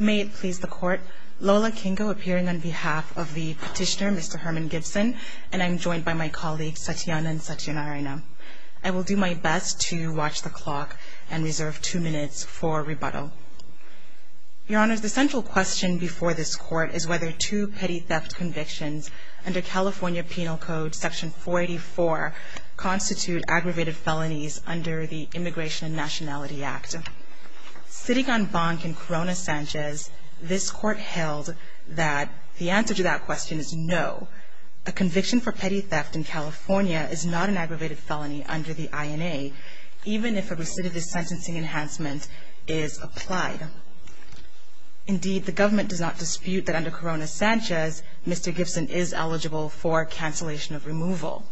May it please the Court, Lola Kingo appearing on behalf of the petitioner, Mr. Herman Gibson, and I'm joined by my colleagues, Satyana and Satyanarayana. I will do my best to watch the clock and reserve two minutes for rebuttal. Your Honors, the central question before this Court is whether two petty theft convictions under California Penal Code, Section 484, constitute aggravated felonies under the Immigration and Nationality Act. First, sitting on bank in Corona Sanchez, this Court held that the answer to that question is no. A conviction for petty theft in California is not an aggravated felony under the INA, even if a recidivist sentencing enhancement is applied. Indeed, the government does not dispute that under Corona Sanchez, Mr. Gibson is eligible for cancellation of removal.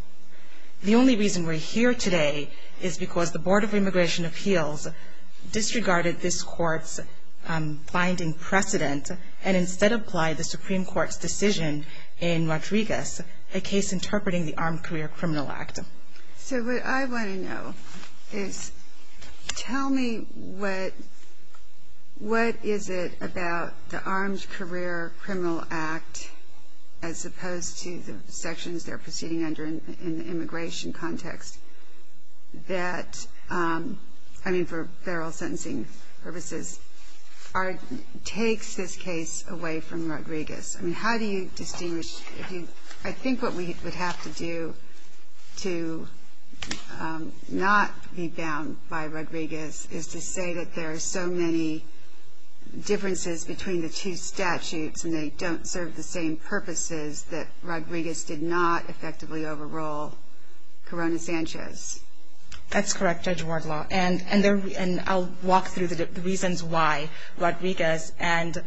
The only reason we're here today is because the Board of Immigration Appeals disregarded this Court's binding precedent and instead applied the Supreme Court's decision in Rodriguez, a case interpreting the Armed Career Criminal Act. So what I want to know is, tell me what is it about the Armed Career Criminal Act, as opposed to the sections they're proceeding under in the immigration context, that, I mean, for federal sentencing purposes, takes this case away from Rodriguez? I mean, how do you distinguish? I think what we would have to do to not be bound by Rodriguez is to say that there are so many differences between the two statutes, and they don't serve the same purposes, that Rodriguez did not effectively overrule Corona Sanchez. That's correct, Judge Wardlaw, and I'll walk through the reasons why Rodriguez and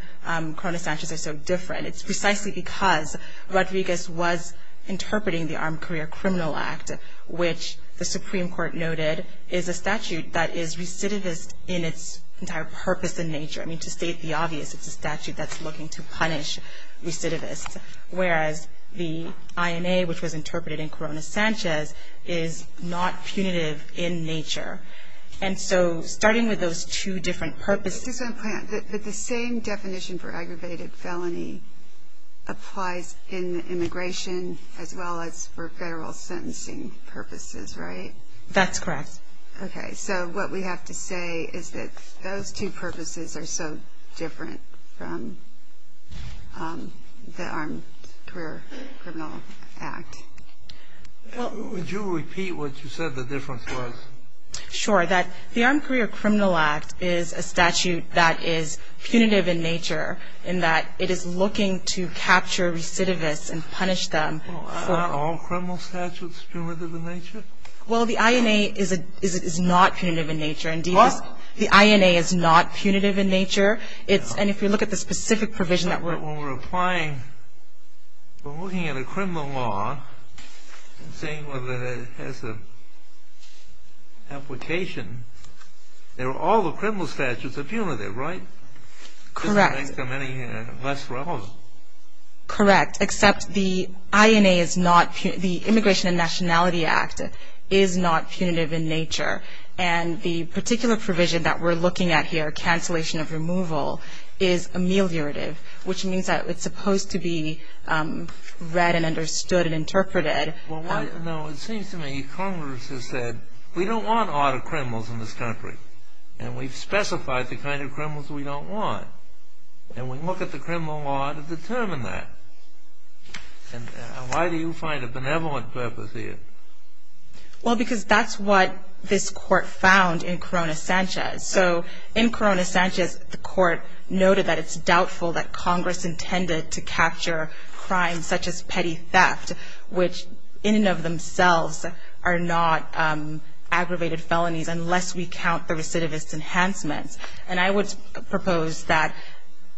Corona Sanchez are so different. It's precisely because Rodriguez was interpreting the Armed Career Criminal Act, which the Supreme Court noted is a statute that is recidivist in its entire purpose and nature. I mean, to state the obvious, it's a statute that's looking to punish recidivists, whereas the INA, which was interpreted in Corona Sanchez, is not punitive in nature. And so, starting with those two different purposes... I just want to point out that the same definition for aggravated felony applies in immigration as well as for federal sentencing purposes, right? That's correct. Okay, so what we have to say is that those two purposes are so different from the Armed Career Criminal Act. Would you repeat what you said the difference was? Sure, that the Armed Career Criminal Act is a statute that is punitive in nature, in that it is looking to capture recidivists and punish them. Aren't all criminal statutes punitive in nature? Well, the INA is not punitive in nature. Indeed, the INA is not punitive in nature. And if you look at the specific provision that we're applying, we're looking at a criminal law and seeing whether it has an application. All the criminal statutes are punitive, right? Correct. Less relevant. Correct, except the INA is not, the Immigration and Nationality Act is not punitive in nature. And the particular provision that we're looking at here, cancellation of removal, is ameliorative, which means that it's supposed to be read and understood and interpreted. Well, no, it seems to me Congress has said, we don't want other criminals in this country. And we've specified the kind of criminals we don't want. And we look at the criminal law to determine that. And why do you find a benevolent purpose here? Well, because that's what this Court found in Corona Sanchez. So in Corona Sanchez, the Court noted that it's doubtful that Congress intended to capture crimes such as petty theft, which in and of themselves are not aggravated felonies unless we count the recidivist enhancements. And I would propose that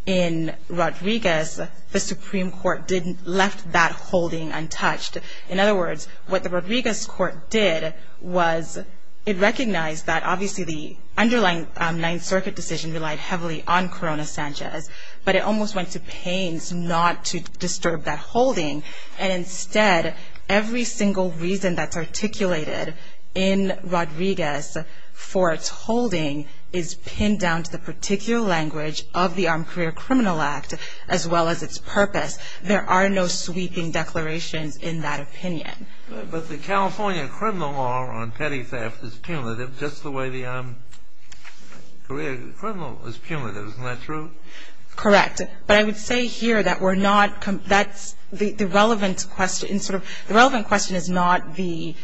in Rodriguez, the Supreme Court didn't left that holding untouched. In other words, what the Rodriguez Court did was it recognized that obviously the underlying Ninth Circuit decision relied heavily on Corona Sanchez. But it almost went to pains not to disturb that holding. And instead, every single reason that's articulated in Rodriguez for its holding is pinned down to the particular language of the Armed Career Criminal Act, as well as its purpose. There are no sweeping declarations in that opinion. But the California criminal law on petty theft is punitive, just the way the career criminal is punitive. Isn't that true? Correct. But I would say here that we're not – that's the relevant question. The relevant question is not the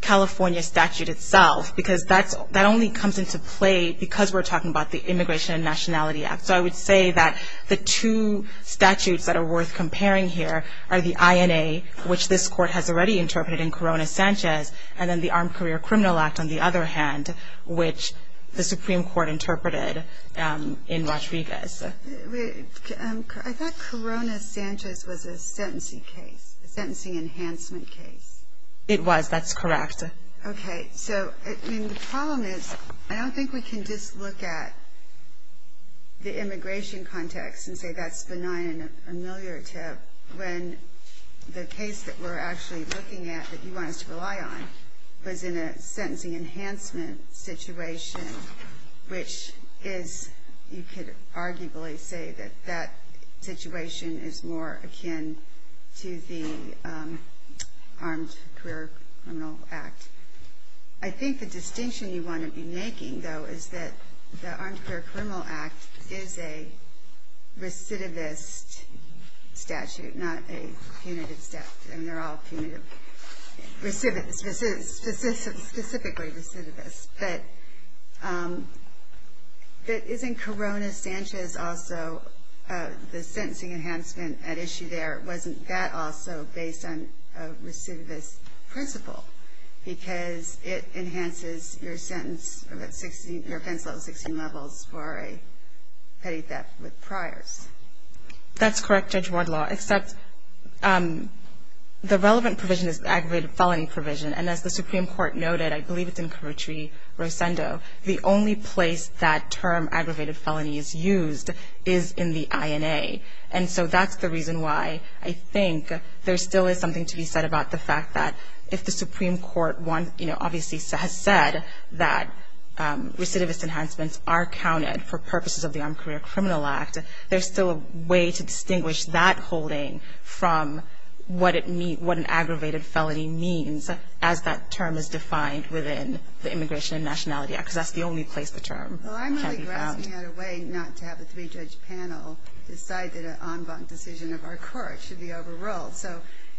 California statute itself, because that only comes into play because we're talking about the Immigration and Nationality Act. So I would say that the two statutes that are worth comparing here are the INA, which this Court has already interpreted in Corona Sanchez, and then the Armed Career Criminal Act, on the other hand, which the Supreme Court interpreted in Rodriguez. I thought Corona Sanchez was a sentencing case, a sentencing enhancement case. It was. That's correct. Okay. So, I mean, the problem is I don't think we can just look at the immigration context and say that's benign and a familiar tip when the case that we're actually looking at that you want us to rely on was in a sentencing enhancement situation, which is – you could arguably say that that situation is more akin to the Armed Career Criminal Act. I think the distinction you want to be making, though, is that the Armed Career Criminal Act is a recidivist statute, not a punitive statute. I mean, they're all punitive – specifically recidivist. But isn't Corona Sanchez also the sentencing enhancement at issue there? Wasn't that also based on a recidivist principle? Because it enhances your sentence – your offense level 16 levels for a petty theft with priors. That's correct, Judge Wardlaw, except the relevant provision is the aggravated felony provision. And as the Supreme Court noted, I believe it's in Covertree-Rosendo, the only place that term aggravated felony is used is in the INA. And so that's the reason why I think there still is something to be said about the fact that if the Supreme Court, you know, obviously has said that recidivist enhancements are counted for purposes of the Armed Career Criminal Act, there's still a way to distinguish that holding from what an aggravated felony means, as that term is defined within the Immigration and Nationality Act, because that's the only place the term can be found. Well, I'm really grasping at a way not to have a three-judge panel decide that an en banc decision of our court should be overruled. So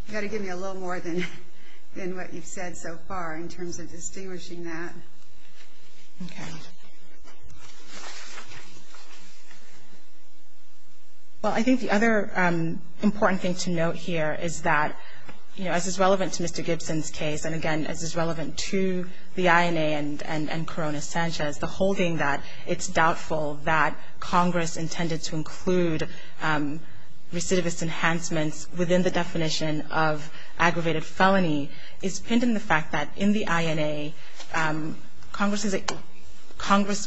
you've got to give me a little more than what you've said so far in terms of distinguishing that. Okay. Well, I think the other important thing to note here is that, you know, as is relevant to Mr. Gibson's case, and again as is relevant to the INA and Corona Sanchez, the holding that it's doubtful that Congress intended to include recidivist enhancements within the definition of aggravated felony is pinned in the fact that in the INA, Congress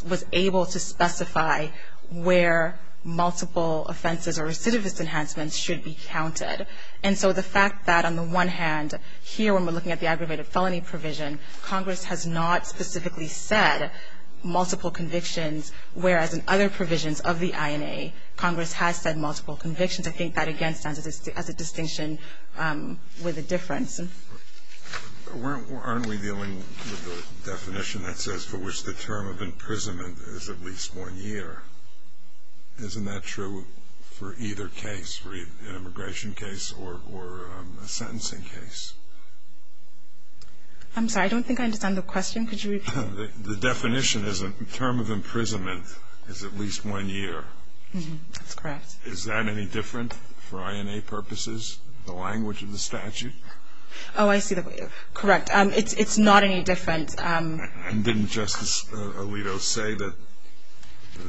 was able to specify where multiple offenses or recidivist enhancements should be counted. And so the fact that on the one hand here when we're looking at the aggravated felony provision, Congress has not specifically said multiple convictions, whereas in other provisions of the INA, Congress has said multiple convictions, I think that again stands as a distinction with a difference. Mr. Gibson. Aren't we dealing with a definition that says for which the term of imprisonment is at least one year? Isn't that true for either case, for an immigration case or a sentencing case? I'm sorry. I don't think I understand the question. Could you repeat it? The definition is a term of imprisonment is at least one year. That's correct. Is that any different for INA purposes, the language of the statute? Oh, I see. Correct. It's not any different. And didn't Justice Alito say that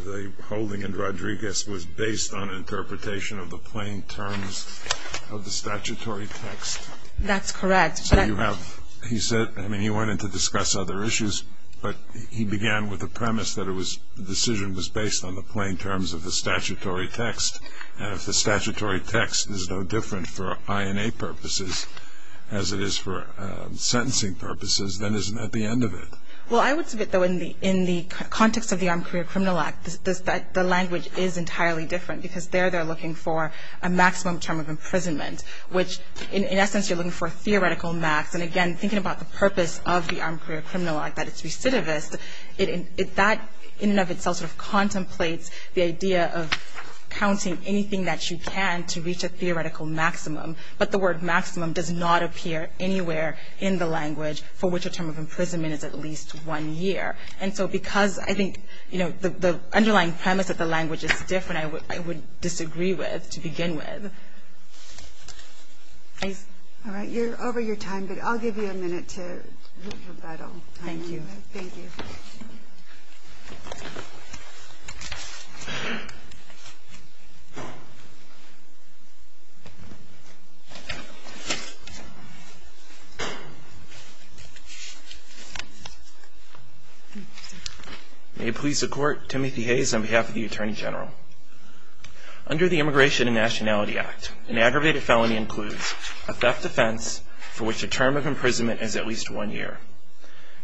the holding in Rodriguez was based on interpretation of the plain terms of the statutory text? That's correct. So you have, he said, I mean, he went in to discuss other issues, but he began with the premise that the decision was based on the plain terms of the statutory text. And if the statutory text is no different for INA purposes as it is for sentencing purposes, then isn't that the end of it? Well, I would submit, though, in the context of the Armed Career Criminal Act, the language is entirely different because there they're looking for a maximum term of imprisonment, which in essence you're looking for a theoretical max. And again, thinking about the purpose of the Armed Career Criminal Act, that it's recidivist, that in and of itself sort of contemplates the idea of counting anything that you can to reach a theoretical maximum. But the word maximum does not appear anywhere in the language for which a term of imprisonment is at least one year. And so because I think, you know, the underlying premise of the language is different, I would disagree with to begin with. Please. All right, you're over your time, but I'll give you a minute to look at that all. Thank you. Thank you. May it please the Court, Timothy Hayes on behalf of the Attorney General. Under the Immigration and Nationality Act, an aggravated felony includes a theft offense for which a term of imprisonment is at least one year.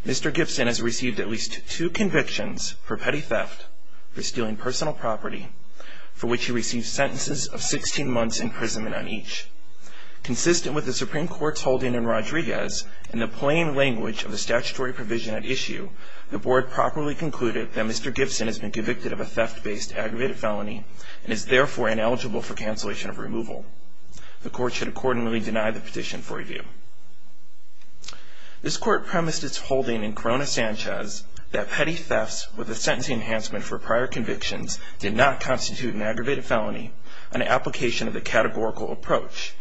Mr. Gibson has received at least two convictions for petty theft, for stealing personal property, for which he received sentences of 16 months imprisonment on each. Consistent with the Supreme Court's holding in Rodriguez and the plain language of the statutory provision at issue, the Board properly concluded that Mr. Gibson has been convicted of a theft-based aggravated felony and is therefore ineligible for cancellation of removal. The Court should accordingly deny the petition for review. This Court premised its holding in Corona-Sanchez that petty thefts with a sentencing enhancement for prior convictions did not constitute an aggravated felony, an application of the categorical approach.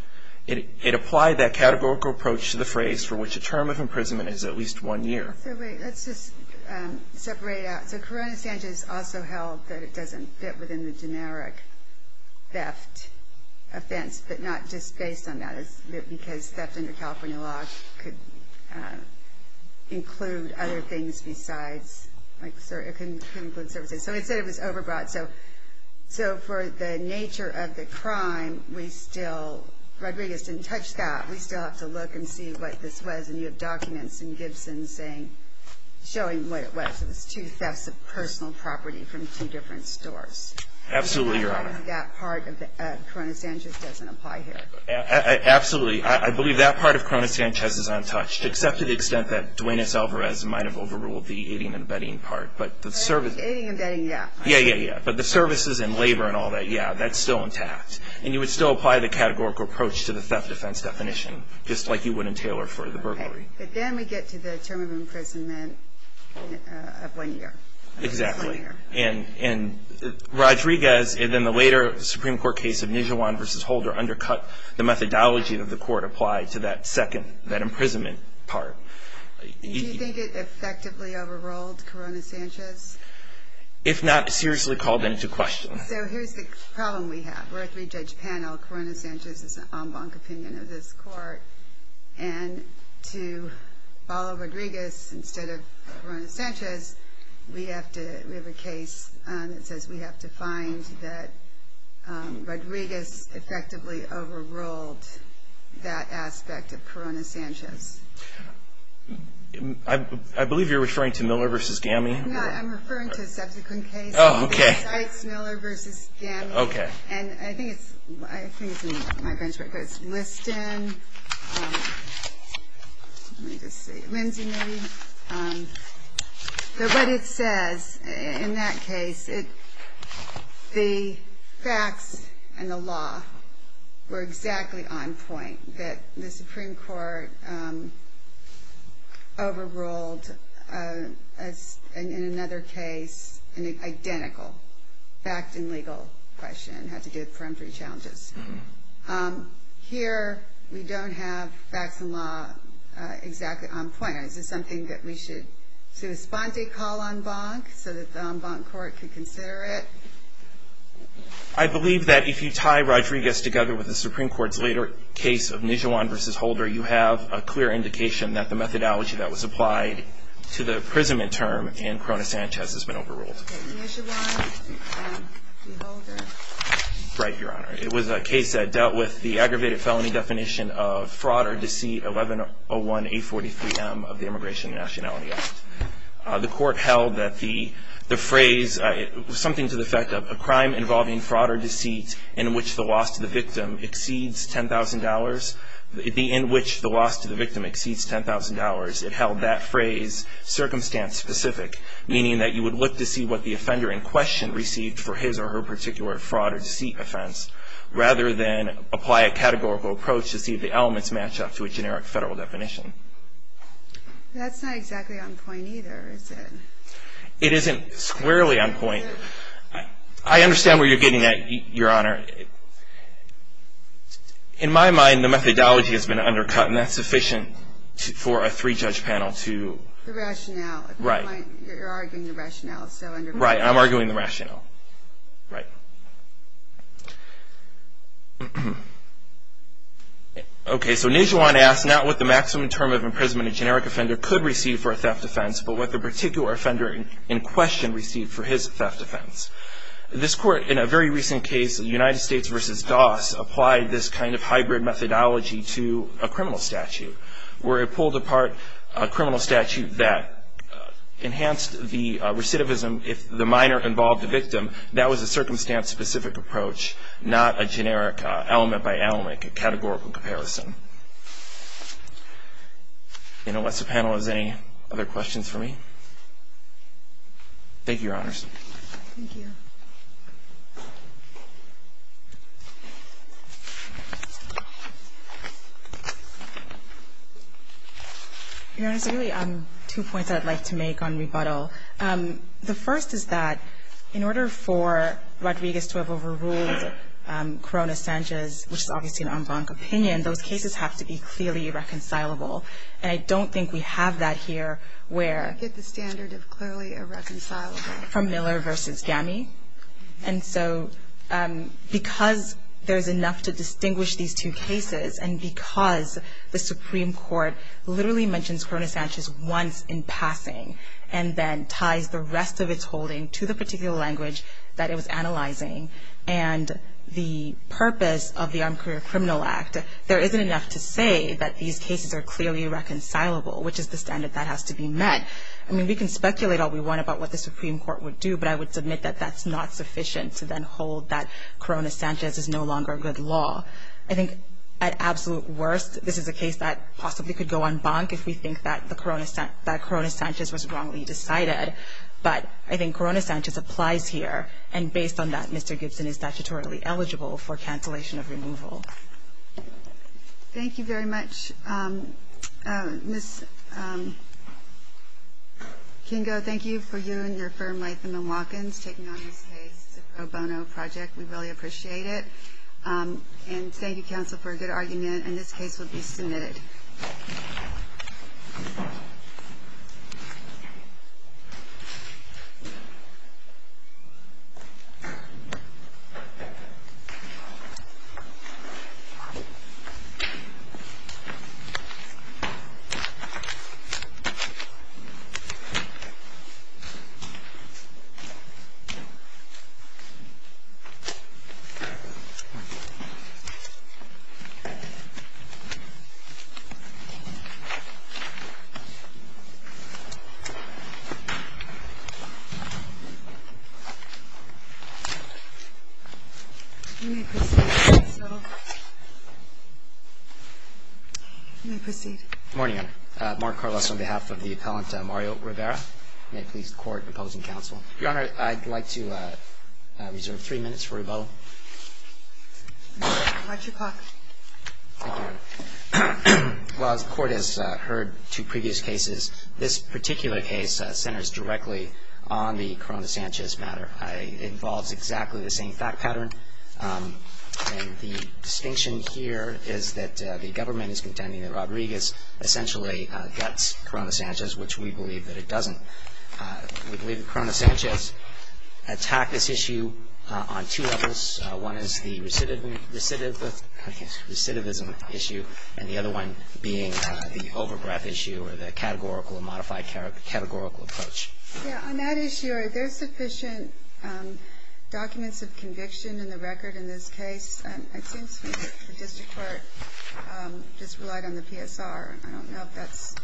It applied that categorical approach to the phrase for which a term of imprisonment is at least one year. So wait, let's just separate it out. So Corona-Sanchez also held that it doesn't fit within the generic theft offense, but not just based on that, because theft under California law could include other things besides, like it could include services. So it said it was overbought. So for the nature of the crime, we still, Rodriguez didn't touch that. We still have to look and see what this was. And you have documents in Gibson showing what it was. It was two thefts of personal property from two different stores. Absolutely, Your Honor. I believe that part of Corona-Sanchez doesn't apply here. Absolutely. I believe that part of Corona-Sanchez is untouched, except to the extent that Duenas-Alvarez might have overruled the aiding and abetting part. But the service. Aiding and abetting, yeah. Yeah, yeah, yeah. But the services and labor and all that, yeah, that's still intact. And you would still apply the categorical approach to the theft offense definition, just like you would in Taylor for the burglary. Okay. But then we get to the term of imprisonment of one year. Exactly. And Rodriguez, and then the later Supreme Court case of Nijuan v. Holder undercut the methodology that the Court applied to that second, that imprisonment part. Do you think it effectively overruled Corona-Sanchez? If not, seriously called into question. So here's the problem we have. We're a three-judge panel. Corona-Sanchez is an en banc opinion of this Court. And to follow Rodriguez instead of Corona-Sanchez, we have a case that says we have to find that Rodriguez effectively overruled that aspect of Corona-Sanchez. I believe you're referring to Miller v. Gammie. No, I'm referring to a subsequent case. Oh, okay. Sykes-Miller v. Gammie. Okay. And I think it's in my benchmark, but it's Liston. Let me just see. Lindsay, maybe. But what it says in that case, the facts and the law were exactly on point, that the Supreme Court overruled, in another case, an identical fact and legal question, had to do with peremptory challenges. Here we don't have facts and law exactly on point. Is this something that we should do a sponte call en banc, so that the en banc Court could consider it? I believe that if you tie Rodriguez together with the Supreme Court's later case of Nijhuan v. Holder, you have a clear indication that the methodology that was applied to the imprisonment term in Corona-Sanchez has been overruled. Okay. Nijhuan v. Holder. Right, Your Honor. It was a case that dealt with the aggravated felony definition of fraud or deceit 1101-843-M of the Immigration and Nationality Act. The Court held that the phrase, something to the effect of a crime involving fraud or deceit in which the loss to the victim exceeds $10,000, in which the loss to the victim exceeds $10,000, it held that phrase circumstance-specific, meaning that you would look to see what the offender in question received for his or her particular fraud or deceit offense, rather than apply a categorical approach to see if the elements match up to a generic federal definition. That's not exactly on point either, is it? It isn't squarely on point. I understand where you're getting at, Your Honor. In my mind, the methodology has been undercut, and that's sufficient for a three-judge panel to... The rationale. Right. You're arguing the rationale. Right, I'm arguing the rationale. Right. Okay, so Nijjuan asks, not what the maximum term of imprisonment a generic offender could receive for a theft offense, but what the particular offender in question received for his theft offense. This Court, in a very recent case, United States v. Doss, applied this kind of hybrid methodology to a criminal statute, where it pulled apart a criminal statute that enhanced the recidivism if the minor involved the victim. That was a circumstance-specific approach, not a generic element-by-element categorical comparison. Unless the panel has any other questions for me? Thank you, Your Honors. Thank you. Your Honors, I have two points I'd like to make on rebuttal. The first is that in order for Rodriguez to have overruled Corona-Sanchez, which is obviously an en banc opinion, those cases have to be clearly irreconcilable. And I don't think we have that here where... We get the standard of clearly irreconcilable. From Miller v. Gammy. And so because there's enough to distinguish these two cases, and because the Supreme Court literally mentions Corona-Sanchez once in passing, and then ties the rest of its holding to the particular language that it was analyzing, and the purpose of the Armed Career Criminal Act, there isn't enough to say that these cases are clearly irreconcilable, which is the standard that has to be met. I mean, we can speculate all we want about what the Supreme Court would do, but I would submit that that's not sufficient to then hold that Corona-Sanchez is no longer a good law. I think at absolute worst, this is a case that possibly could go en banc if we think that Corona-Sanchez was wrongly decided. But I think Corona-Sanchez applies here. And based on that, Mr. Gibson is statutorily eligible for cancellation of removal. Thank you very much. Ms. Kingo, thank you for you and your firm, Latham & Watkins, taking on this case. It's a pro bono project. We really appreciate it. And thank you, counsel, for a good argument. And this case will be submitted. You may proceed, counsel. You may proceed. Good morning, Your Honor. Mark Carlos on behalf of the appellant Mario Rivera. May it please the Court in opposing counsel. Your Honor, I'd like to reserve three minutes for rebuttal. Watch your clock. Thank you. Well, as the Court has heard two previous cases, this particular case centers directly on the Corona-Sanchez matter. It involves exactly the same fact pattern. And the distinction here is that the government is contending that Rodriguez essentially guts Corona-Sanchez, which we believe that it doesn't. We believe that Corona-Sanchez attacked this issue on two levels. One is the recidivism issue, and the other one being the overgraph issue or the categorical or modified categorical approach. Yeah, on that issue, are there sufficient documents of conviction in the record in this case? It seems to me that the district court just relied on the PSR. I don't know if that's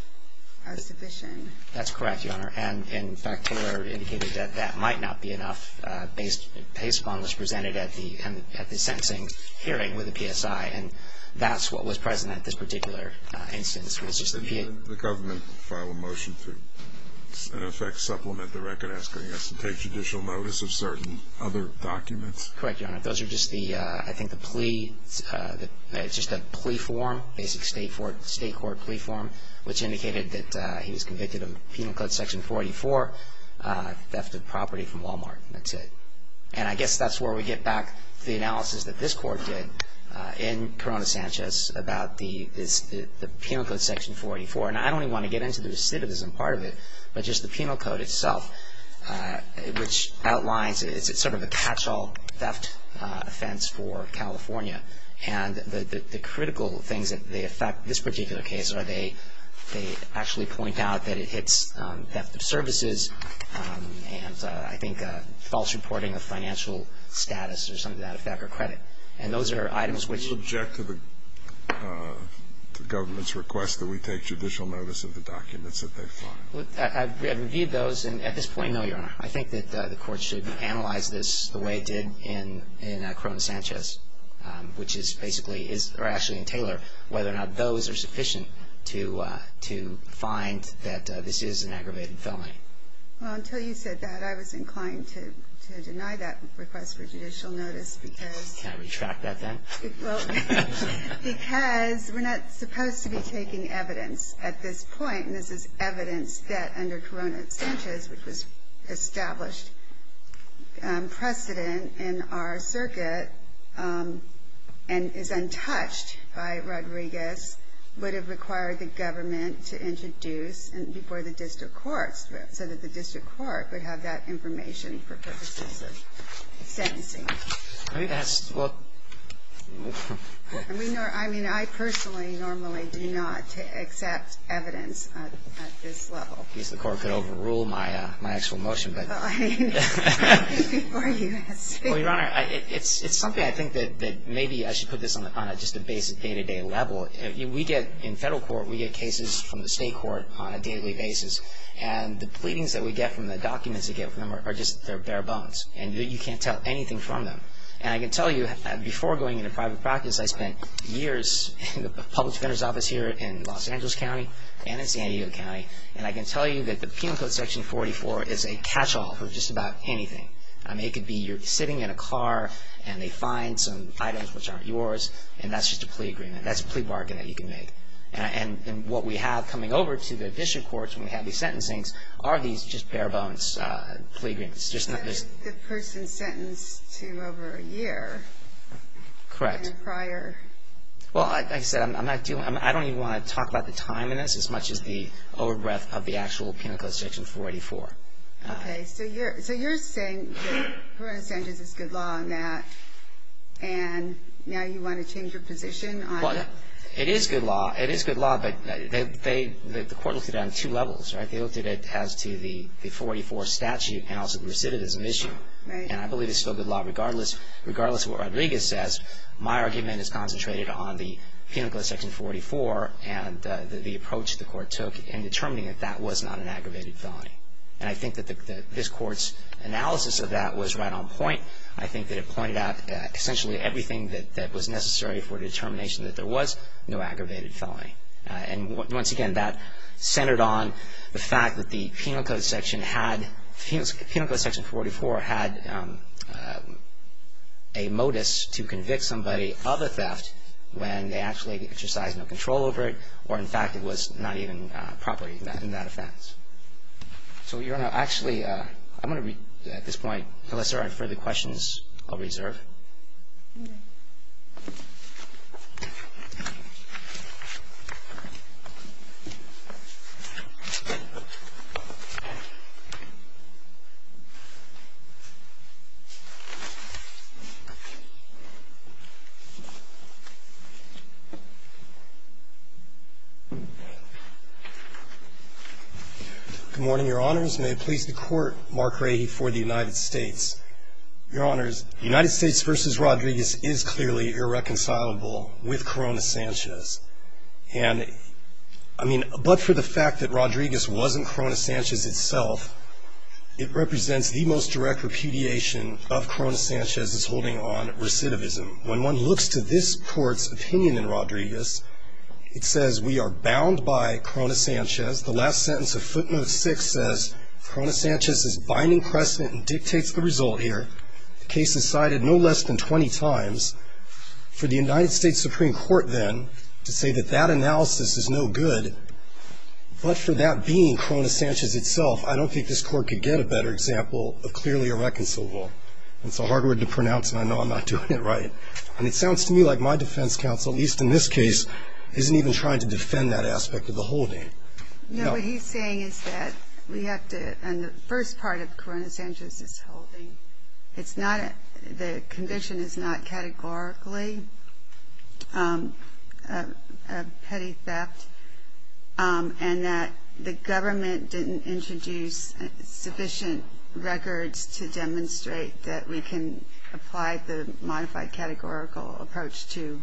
sufficient. That's correct, Your Honor. And, in fact, we're indicating that that might not be enough. His bond was presented at the sentencing hearing with the PSI, and that's what was present at this particular instance. The government filed a motion to, in effect, supplement the record asking us to take judicial notice of certain other documents? Correct, Your Honor. Those are just, I think, the plea. It's just a plea form, basic state court plea form, which indicated that he was convicted of Penal Code Section 484, theft of property from Walmart, and that's it. And I guess that's where we get back to the analysis that this court did in Corona-Sanchez about the Penal Code Section 484. And I don't even want to get into the recidivism part of it, but just the penal code itself, which outlines it's sort of a catch-all theft offense for California. And the critical things that affect this particular case are they actually point out that it hits theft of services and, I think, false reporting of financial status or something of that effect, or credit. And those are items which ---- Do you object to the government's request that we take judicial notice of the documents that they filed? I've reviewed those, and at this point, no, Your Honor. I think that the court should analyze this the way it did in Corona-Sanchez, which is basically, or actually in Taylor, whether or not those are sufficient to find that this is an aggravated felony. Well, until you said that, I was inclined to deny that request for judicial notice because ---- Can I retract that then? Well, because we're not supposed to be taking evidence at this point, and this is evidence that under Corona-Sanchez, which was established precedent in our circuit and is untouched by Rodriguez, would have required the government to introduce before the district courts so that the district court would have that information for purposes of sentencing. I think that's ---- I mean, I personally normally do not accept evidence at this level. At least the court could overrule my actual motion, but ---- Well, Your Honor, it's something I think that maybe I should put this on just a basic day-to-day level. We get, in federal court, we get cases from the state court on a daily basis, and the pleadings that we get from the documents we get from them are just bare bones, and you can't tell anything from them. And I can tell you, before going into private practice, I spent years in the public defender's office here in Los Angeles County and in San Diego County, and I can tell you that the Penal Code Section 44 is a catch-all for just about anything. I mean, it could be you're sitting in a car and they find some items which aren't yours, and that's just a plea agreement. That's a plea bargain that you can make. And what we have coming over to the district courts when we have these sentencings are these just bare-bones plea agreements. Just not this ---- The person sentenced to over a year. Correct. In a prior ---- Well, like I said, I'm not doing ---- I don't even want to talk about the time in this as much as the over-breath of the actual Penal Code Section 44. Okay. So you're saying that Corona Sanchez is good law in that, and now you want to change your position on it? Well, it is good law. It is good law, but the court looked at it on two levels, right? They looked at it as to the 44 statute and also the recidivism issue. Right. And I believe it's still good law regardless of what Rodriguez says. My argument is concentrated on the Penal Code Section 44 and the approach the court took in determining that that was not an aggravated felony. And I think that this Court's analysis of that was right on point. I think that it pointed out essentially everything that was necessary for determination that there was no aggravated felony. And once again, that centered on the fact that the Penal Code Section had ---- when they actually exercised no control over it or, in fact, it was not even properly in that defense. So you're going to actually ---- I'm going to at this point, unless there are further questions, I'll reserve. Okay. Thank you. Good morning, Your Honors. May it please the Court, Mark Rahe for the United States. Your Honors, United States v. Rodriguez is clearly irreconcilable with Corona Sanchez. And, I mean, but for the fact that Rodriguez wasn't Corona Sanchez itself, it represents the most direct repudiation of Corona Sanchez's holding on recidivism. When one looks to this Court's opinion in Rodriguez, it says we are bound by Corona Sanchez. The last sentence of Footnote 6 says Corona Sanchez is binding precedent and dictates the result here. The case is cited no less than 20 times. For the United States Supreme Court, then, to say that that analysis is no good, but for that being Corona Sanchez itself, I don't think this Court could get a better example of clearly irreconcilable. That's a hard word to pronounce, and I know I'm not doing it right. And it sounds to me like my defense counsel, at least in this case, isn't even trying to defend that aspect of the holding. No, what he's saying is that we have to ---- and the first part of Corona Sanchez's holding, it's not a ---- the conviction is not categorically a petty theft, and that the government didn't introduce sufficient records to demonstrate that we can apply the modified categorical approach to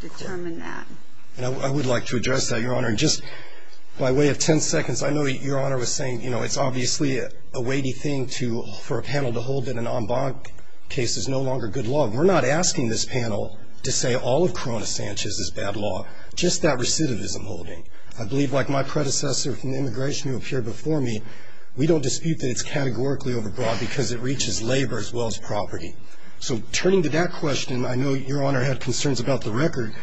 determine that. I would like to address that, Your Honor. Just by way of 10 seconds, I know Your Honor was saying, you know, it's obviously a weighty thing for a panel to hold that an en banc case is no longer good law. We're not asking this panel to say all of Corona Sanchez is bad law, just that recidivism holding. I believe, like my predecessor from immigration who appeared before me, we don't dispute that it's categorically overbroad because it reaches labor as well as property. So turning to that question, I know Your Honor had concerns about the record.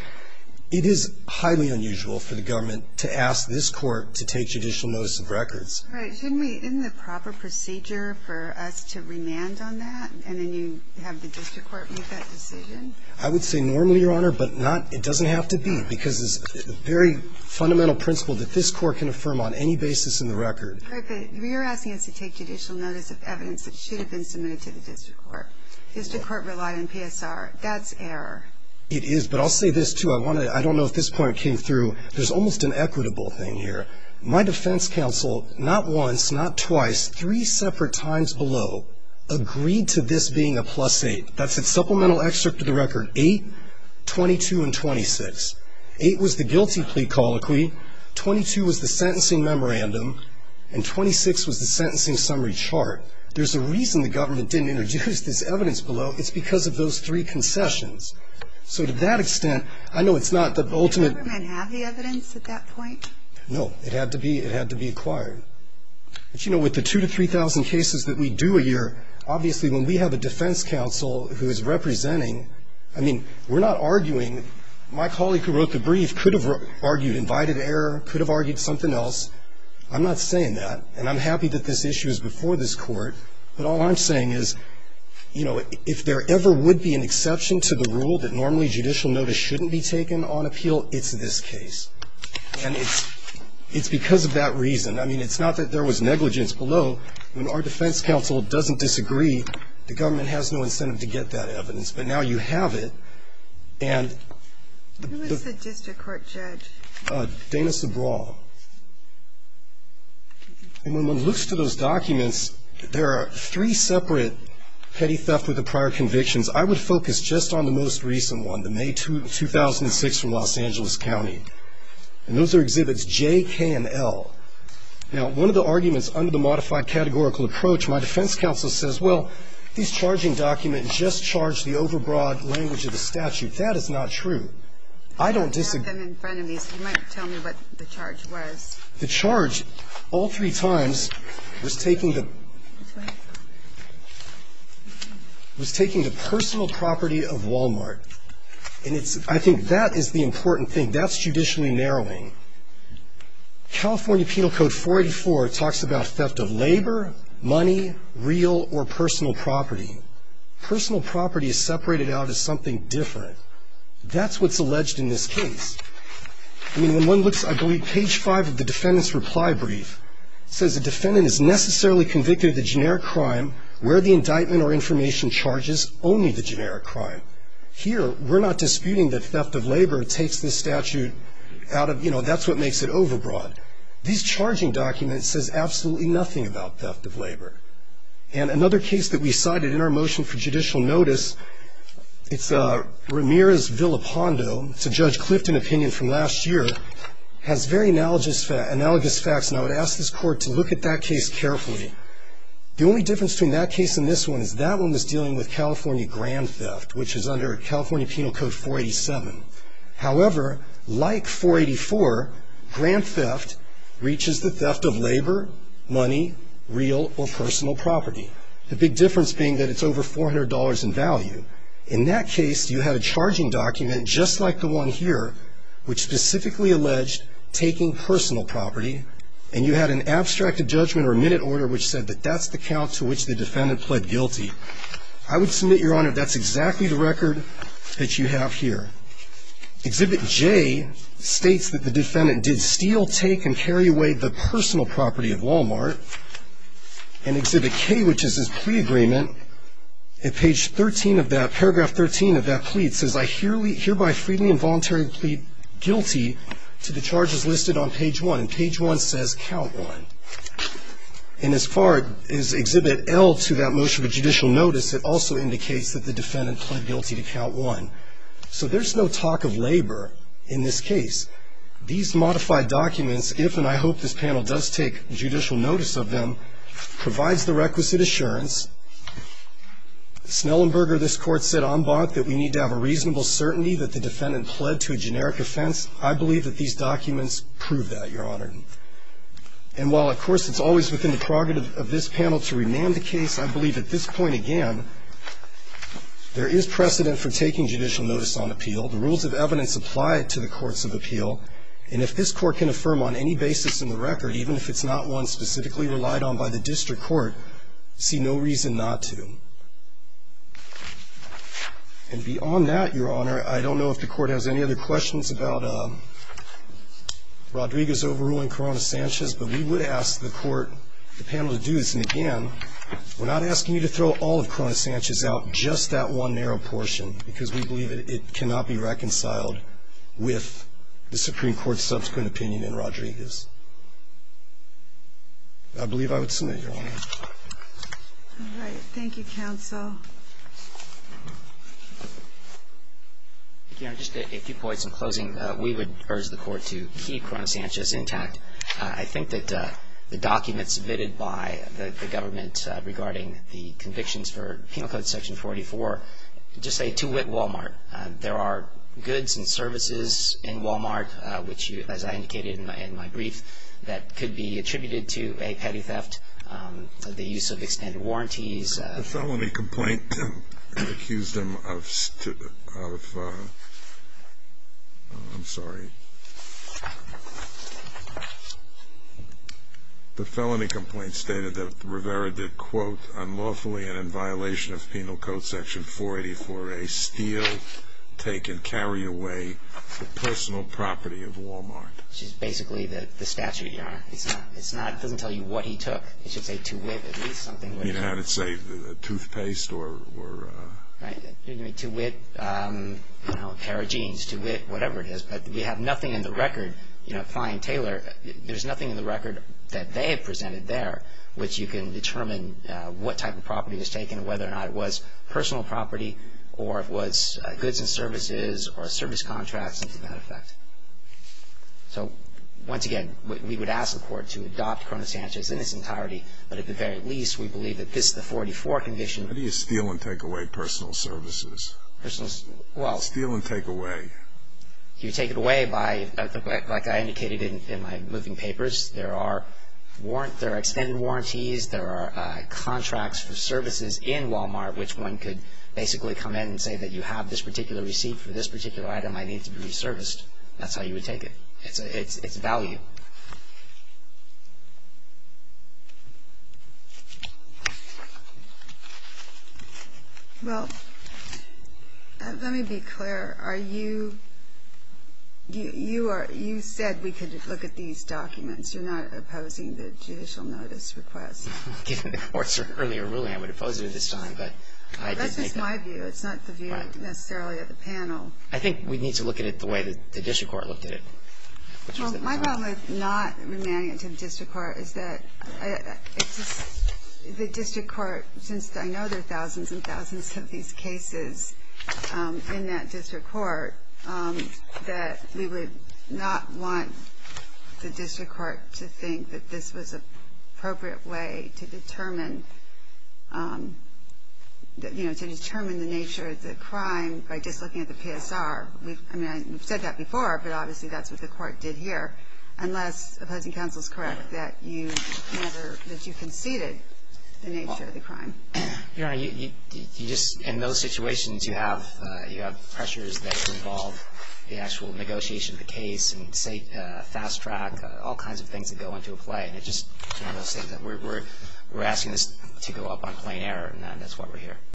It is highly unusual for the government to ask this Court to take judicial notice of records. Right. Shouldn't we ---- isn't the proper procedure for us to remand on that and then you have the district court make that decision? I would say normally, Your Honor, but not ---- it doesn't have to be because it's a very fundamental principle that this Court can affirm on any basis in the record. Right, but you're asking us to take judicial notice of evidence that should have been submitted to the district court. District court relied on PSR. That's error. It is, but I'll say this too. I want to ---- I don't know if this point came through. There's almost an equitable thing here. My defense counsel, not once, not twice, three separate times below, agreed to this being a plus eight. That's a supplemental excerpt to the record. Eight, 22, and 26. Eight was the guilty plea colloquy. Twenty-two was the sentencing memorandum. And 26 was the sentencing summary chart. There's a reason the government didn't introduce this evidence below. It's because of those three concessions. So to that extent, I know it's not the ultimate ---- Did the government have the evidence at that point? No. It had to be ---- it had to be acquired. But, you know, with the 2,000 to 3,000 cases that we do a year, obviously, when we have a defense counsel who is representing ---- I mean, we're not arguing. My colleague who wrote the brief could have argued invited error, could have argued something else. I'm not saying that. And I'm happy that this issue is before this Court. But all I'm saying is, you know, if there ever would be an exception to the rule that normally judicial notice shouldn't be taken on appeal, it's this case. And it's because of that reason. I mean, it's not that there was negligence below. When our defense counsel doesn't disagree, the government has no incentive to get that evidence. But now you have it, and the ---- Who is the district court judge? Dana Sabraw. And when one looks to those documents, there are three separate petty theft with the prior convictions. I would focus just on the most recent one, the May 2006 from Los Angeles County. And those are exhibits J, K, and L. Now, one of the arguments under the modified categorical approach, my defense counsel says, well, these charging documents just charge the overbroad language of the statute. That is not true. I don't disagree. You have them in front of me, so you might tell me what the charge was. The charge all three times was taking the ---- Which way? Was taking the personal property of Walmart. And it's ---- I think that is the important thing. That's judicially narrowing. California Penal Code 484 talks about theft of labor, money, real, or personal property. Personal property is separated out as something different. That's what's alleged in this case. I mean, when one looks, I believe, page 5 of the defendant's reply brief, it says the defendant is necessarily convicted of the generic crime, where the indictment or information charges only the generic crime. Here, we're not disputing that theft of labor takes this statute out of, you know, that's what makes it overbroad. These charging documents says absolutely nothing about theft of labor. And another case that we cited in our motion for judicial notice, it's Ramirez-Villapando, it's a Judge Clifton opinion from last year, has very analogous facts, and I would ask this Court to look at that case carefully. The only difference between that case and this one is that one was dealing with California grand theft, which is under California Penal Code 487. However, like 484, grand theft reaches the theft of labor, money, real, or personal property. The big difference being that it's over $400 in value. In that case, you had a charging document just like the one here, which specifically alleged taking personal property, and you had an abstracted judgment or minute order which said that that's the count to which the defendant pled guilty. I would submit, Your Honor, that's exactly the record that you have here. Exhibit J states that the defendant did steal, take, and carry away the personal property of Walmart, and Exhibit K, which is his plea agreement, at paragraph 13 of that plea, it says, I hereby freely and voluntarily plead guilty to the charges listed on page 1. And page 1 says count 1. And as far as Exhibit L to that motion of judicial notice, it also indicates that the defendant pled guilty to count 1. So there's no talk of labor in this case. These modified documents, if and I hope this panel does take judicial notice of them, provides the requisite assurance. Snellenberger, this Court, said en banc that we need to have a reasonable certainty that the defendant pled to a generic offense. I believe that these documents prove that, Your Honor. And while, of course, it's always within the prerogative of this panel to rename the case, I believe at this point, again, there is precedent for taking judicial notice on appeal. The rules of evidence apply to the courts of appeal. And if this Court can affirm on any basis in the record, even if it's not one specifically relied on by the district court, see no reason not to. And beyond that, Your Honor, I don't know if the Court has any other questions about Rodriguez overruling Corona-Sanchez, but we would ask the panel to do this. And, again, we're not asking you to throw all of Corona-Sanchez out, just that one narrow portion, because we believe it cannot be reconciled with the Supreme Court's subsequent opinion in Rodriguez. I believe I would submit, Your Honor. All right. Thank you, counsel. Your Honor, just a few points in closing. We would urge the Court to keep Corona-Sanchez intact. I think that the documents submitted by the government regarding the convictions for Penal Code Section 44 just say, to wit, Wal-Mart. There are goods and services in Wal-Mart, which, as I indicated in my brief, that could be attributed to a petty theft, the use of extended warranties. The felony complaint accused him of, I'm sorry. Unlawfully and in violation of Penal Code Section 484A, steal, take and carry away the personal property of Wal-Mart. Which is basically the statute, Your Honor. It doesn't tell you what he took. It should say, to wit, at least something. I mean, how did it say? Toothpaste or? To wit, a pair of jeans. To wit, whatever it is. But we have nothing in the record. Fine and Taylor, there's nothing in the record that they have presented there which you can determine what type of property was taken, whether or not it was personal property or it was goods and services or service contracts, and to that effect. So, once again, we would ask the Court to adopt Corona-Sanchez in its entirety. But at the very least, we believe that this, the 44 condition. How do you steal and take away personal services? Well. Steal and take away. You take it away by, like I indicated in my moving papers, there are extended warranties, there are contracts for services in Wal-Mart, which one could basically come in and say that you have this particular receipt for this particular item. I need to be resurfaced. That's how you would take it. It's value. Well, let me be clear. Are you, you are, you said we could look at these documents. You're not opposing the judicial notice request. Given the Court's earlier ruling, I would oppose it at this time. But I did make it. That's just my view. It's not the view necessarily of the panel. I think we need to look at it the way the district court looked at it. Well, my problem with not remanding it to the district court is that the district court, since I know there are thousands and thousands of these cases in that district court, that we would not want the district court to think that this was an appropriate way to determine, you know, to determine the nature of the crime by just looking at the PSR. I mean, we've said that before, but obviously that's what the court did here, unless opposing counsel is correct that you conceded the nature of the crime. Your Honor, you just, in those situations, you have pressures that involve the actual negotiation of the case and fast track, all kinds of things that go into a play. And it just, you know, we're asking this to go up on plain error, and that's why we're here.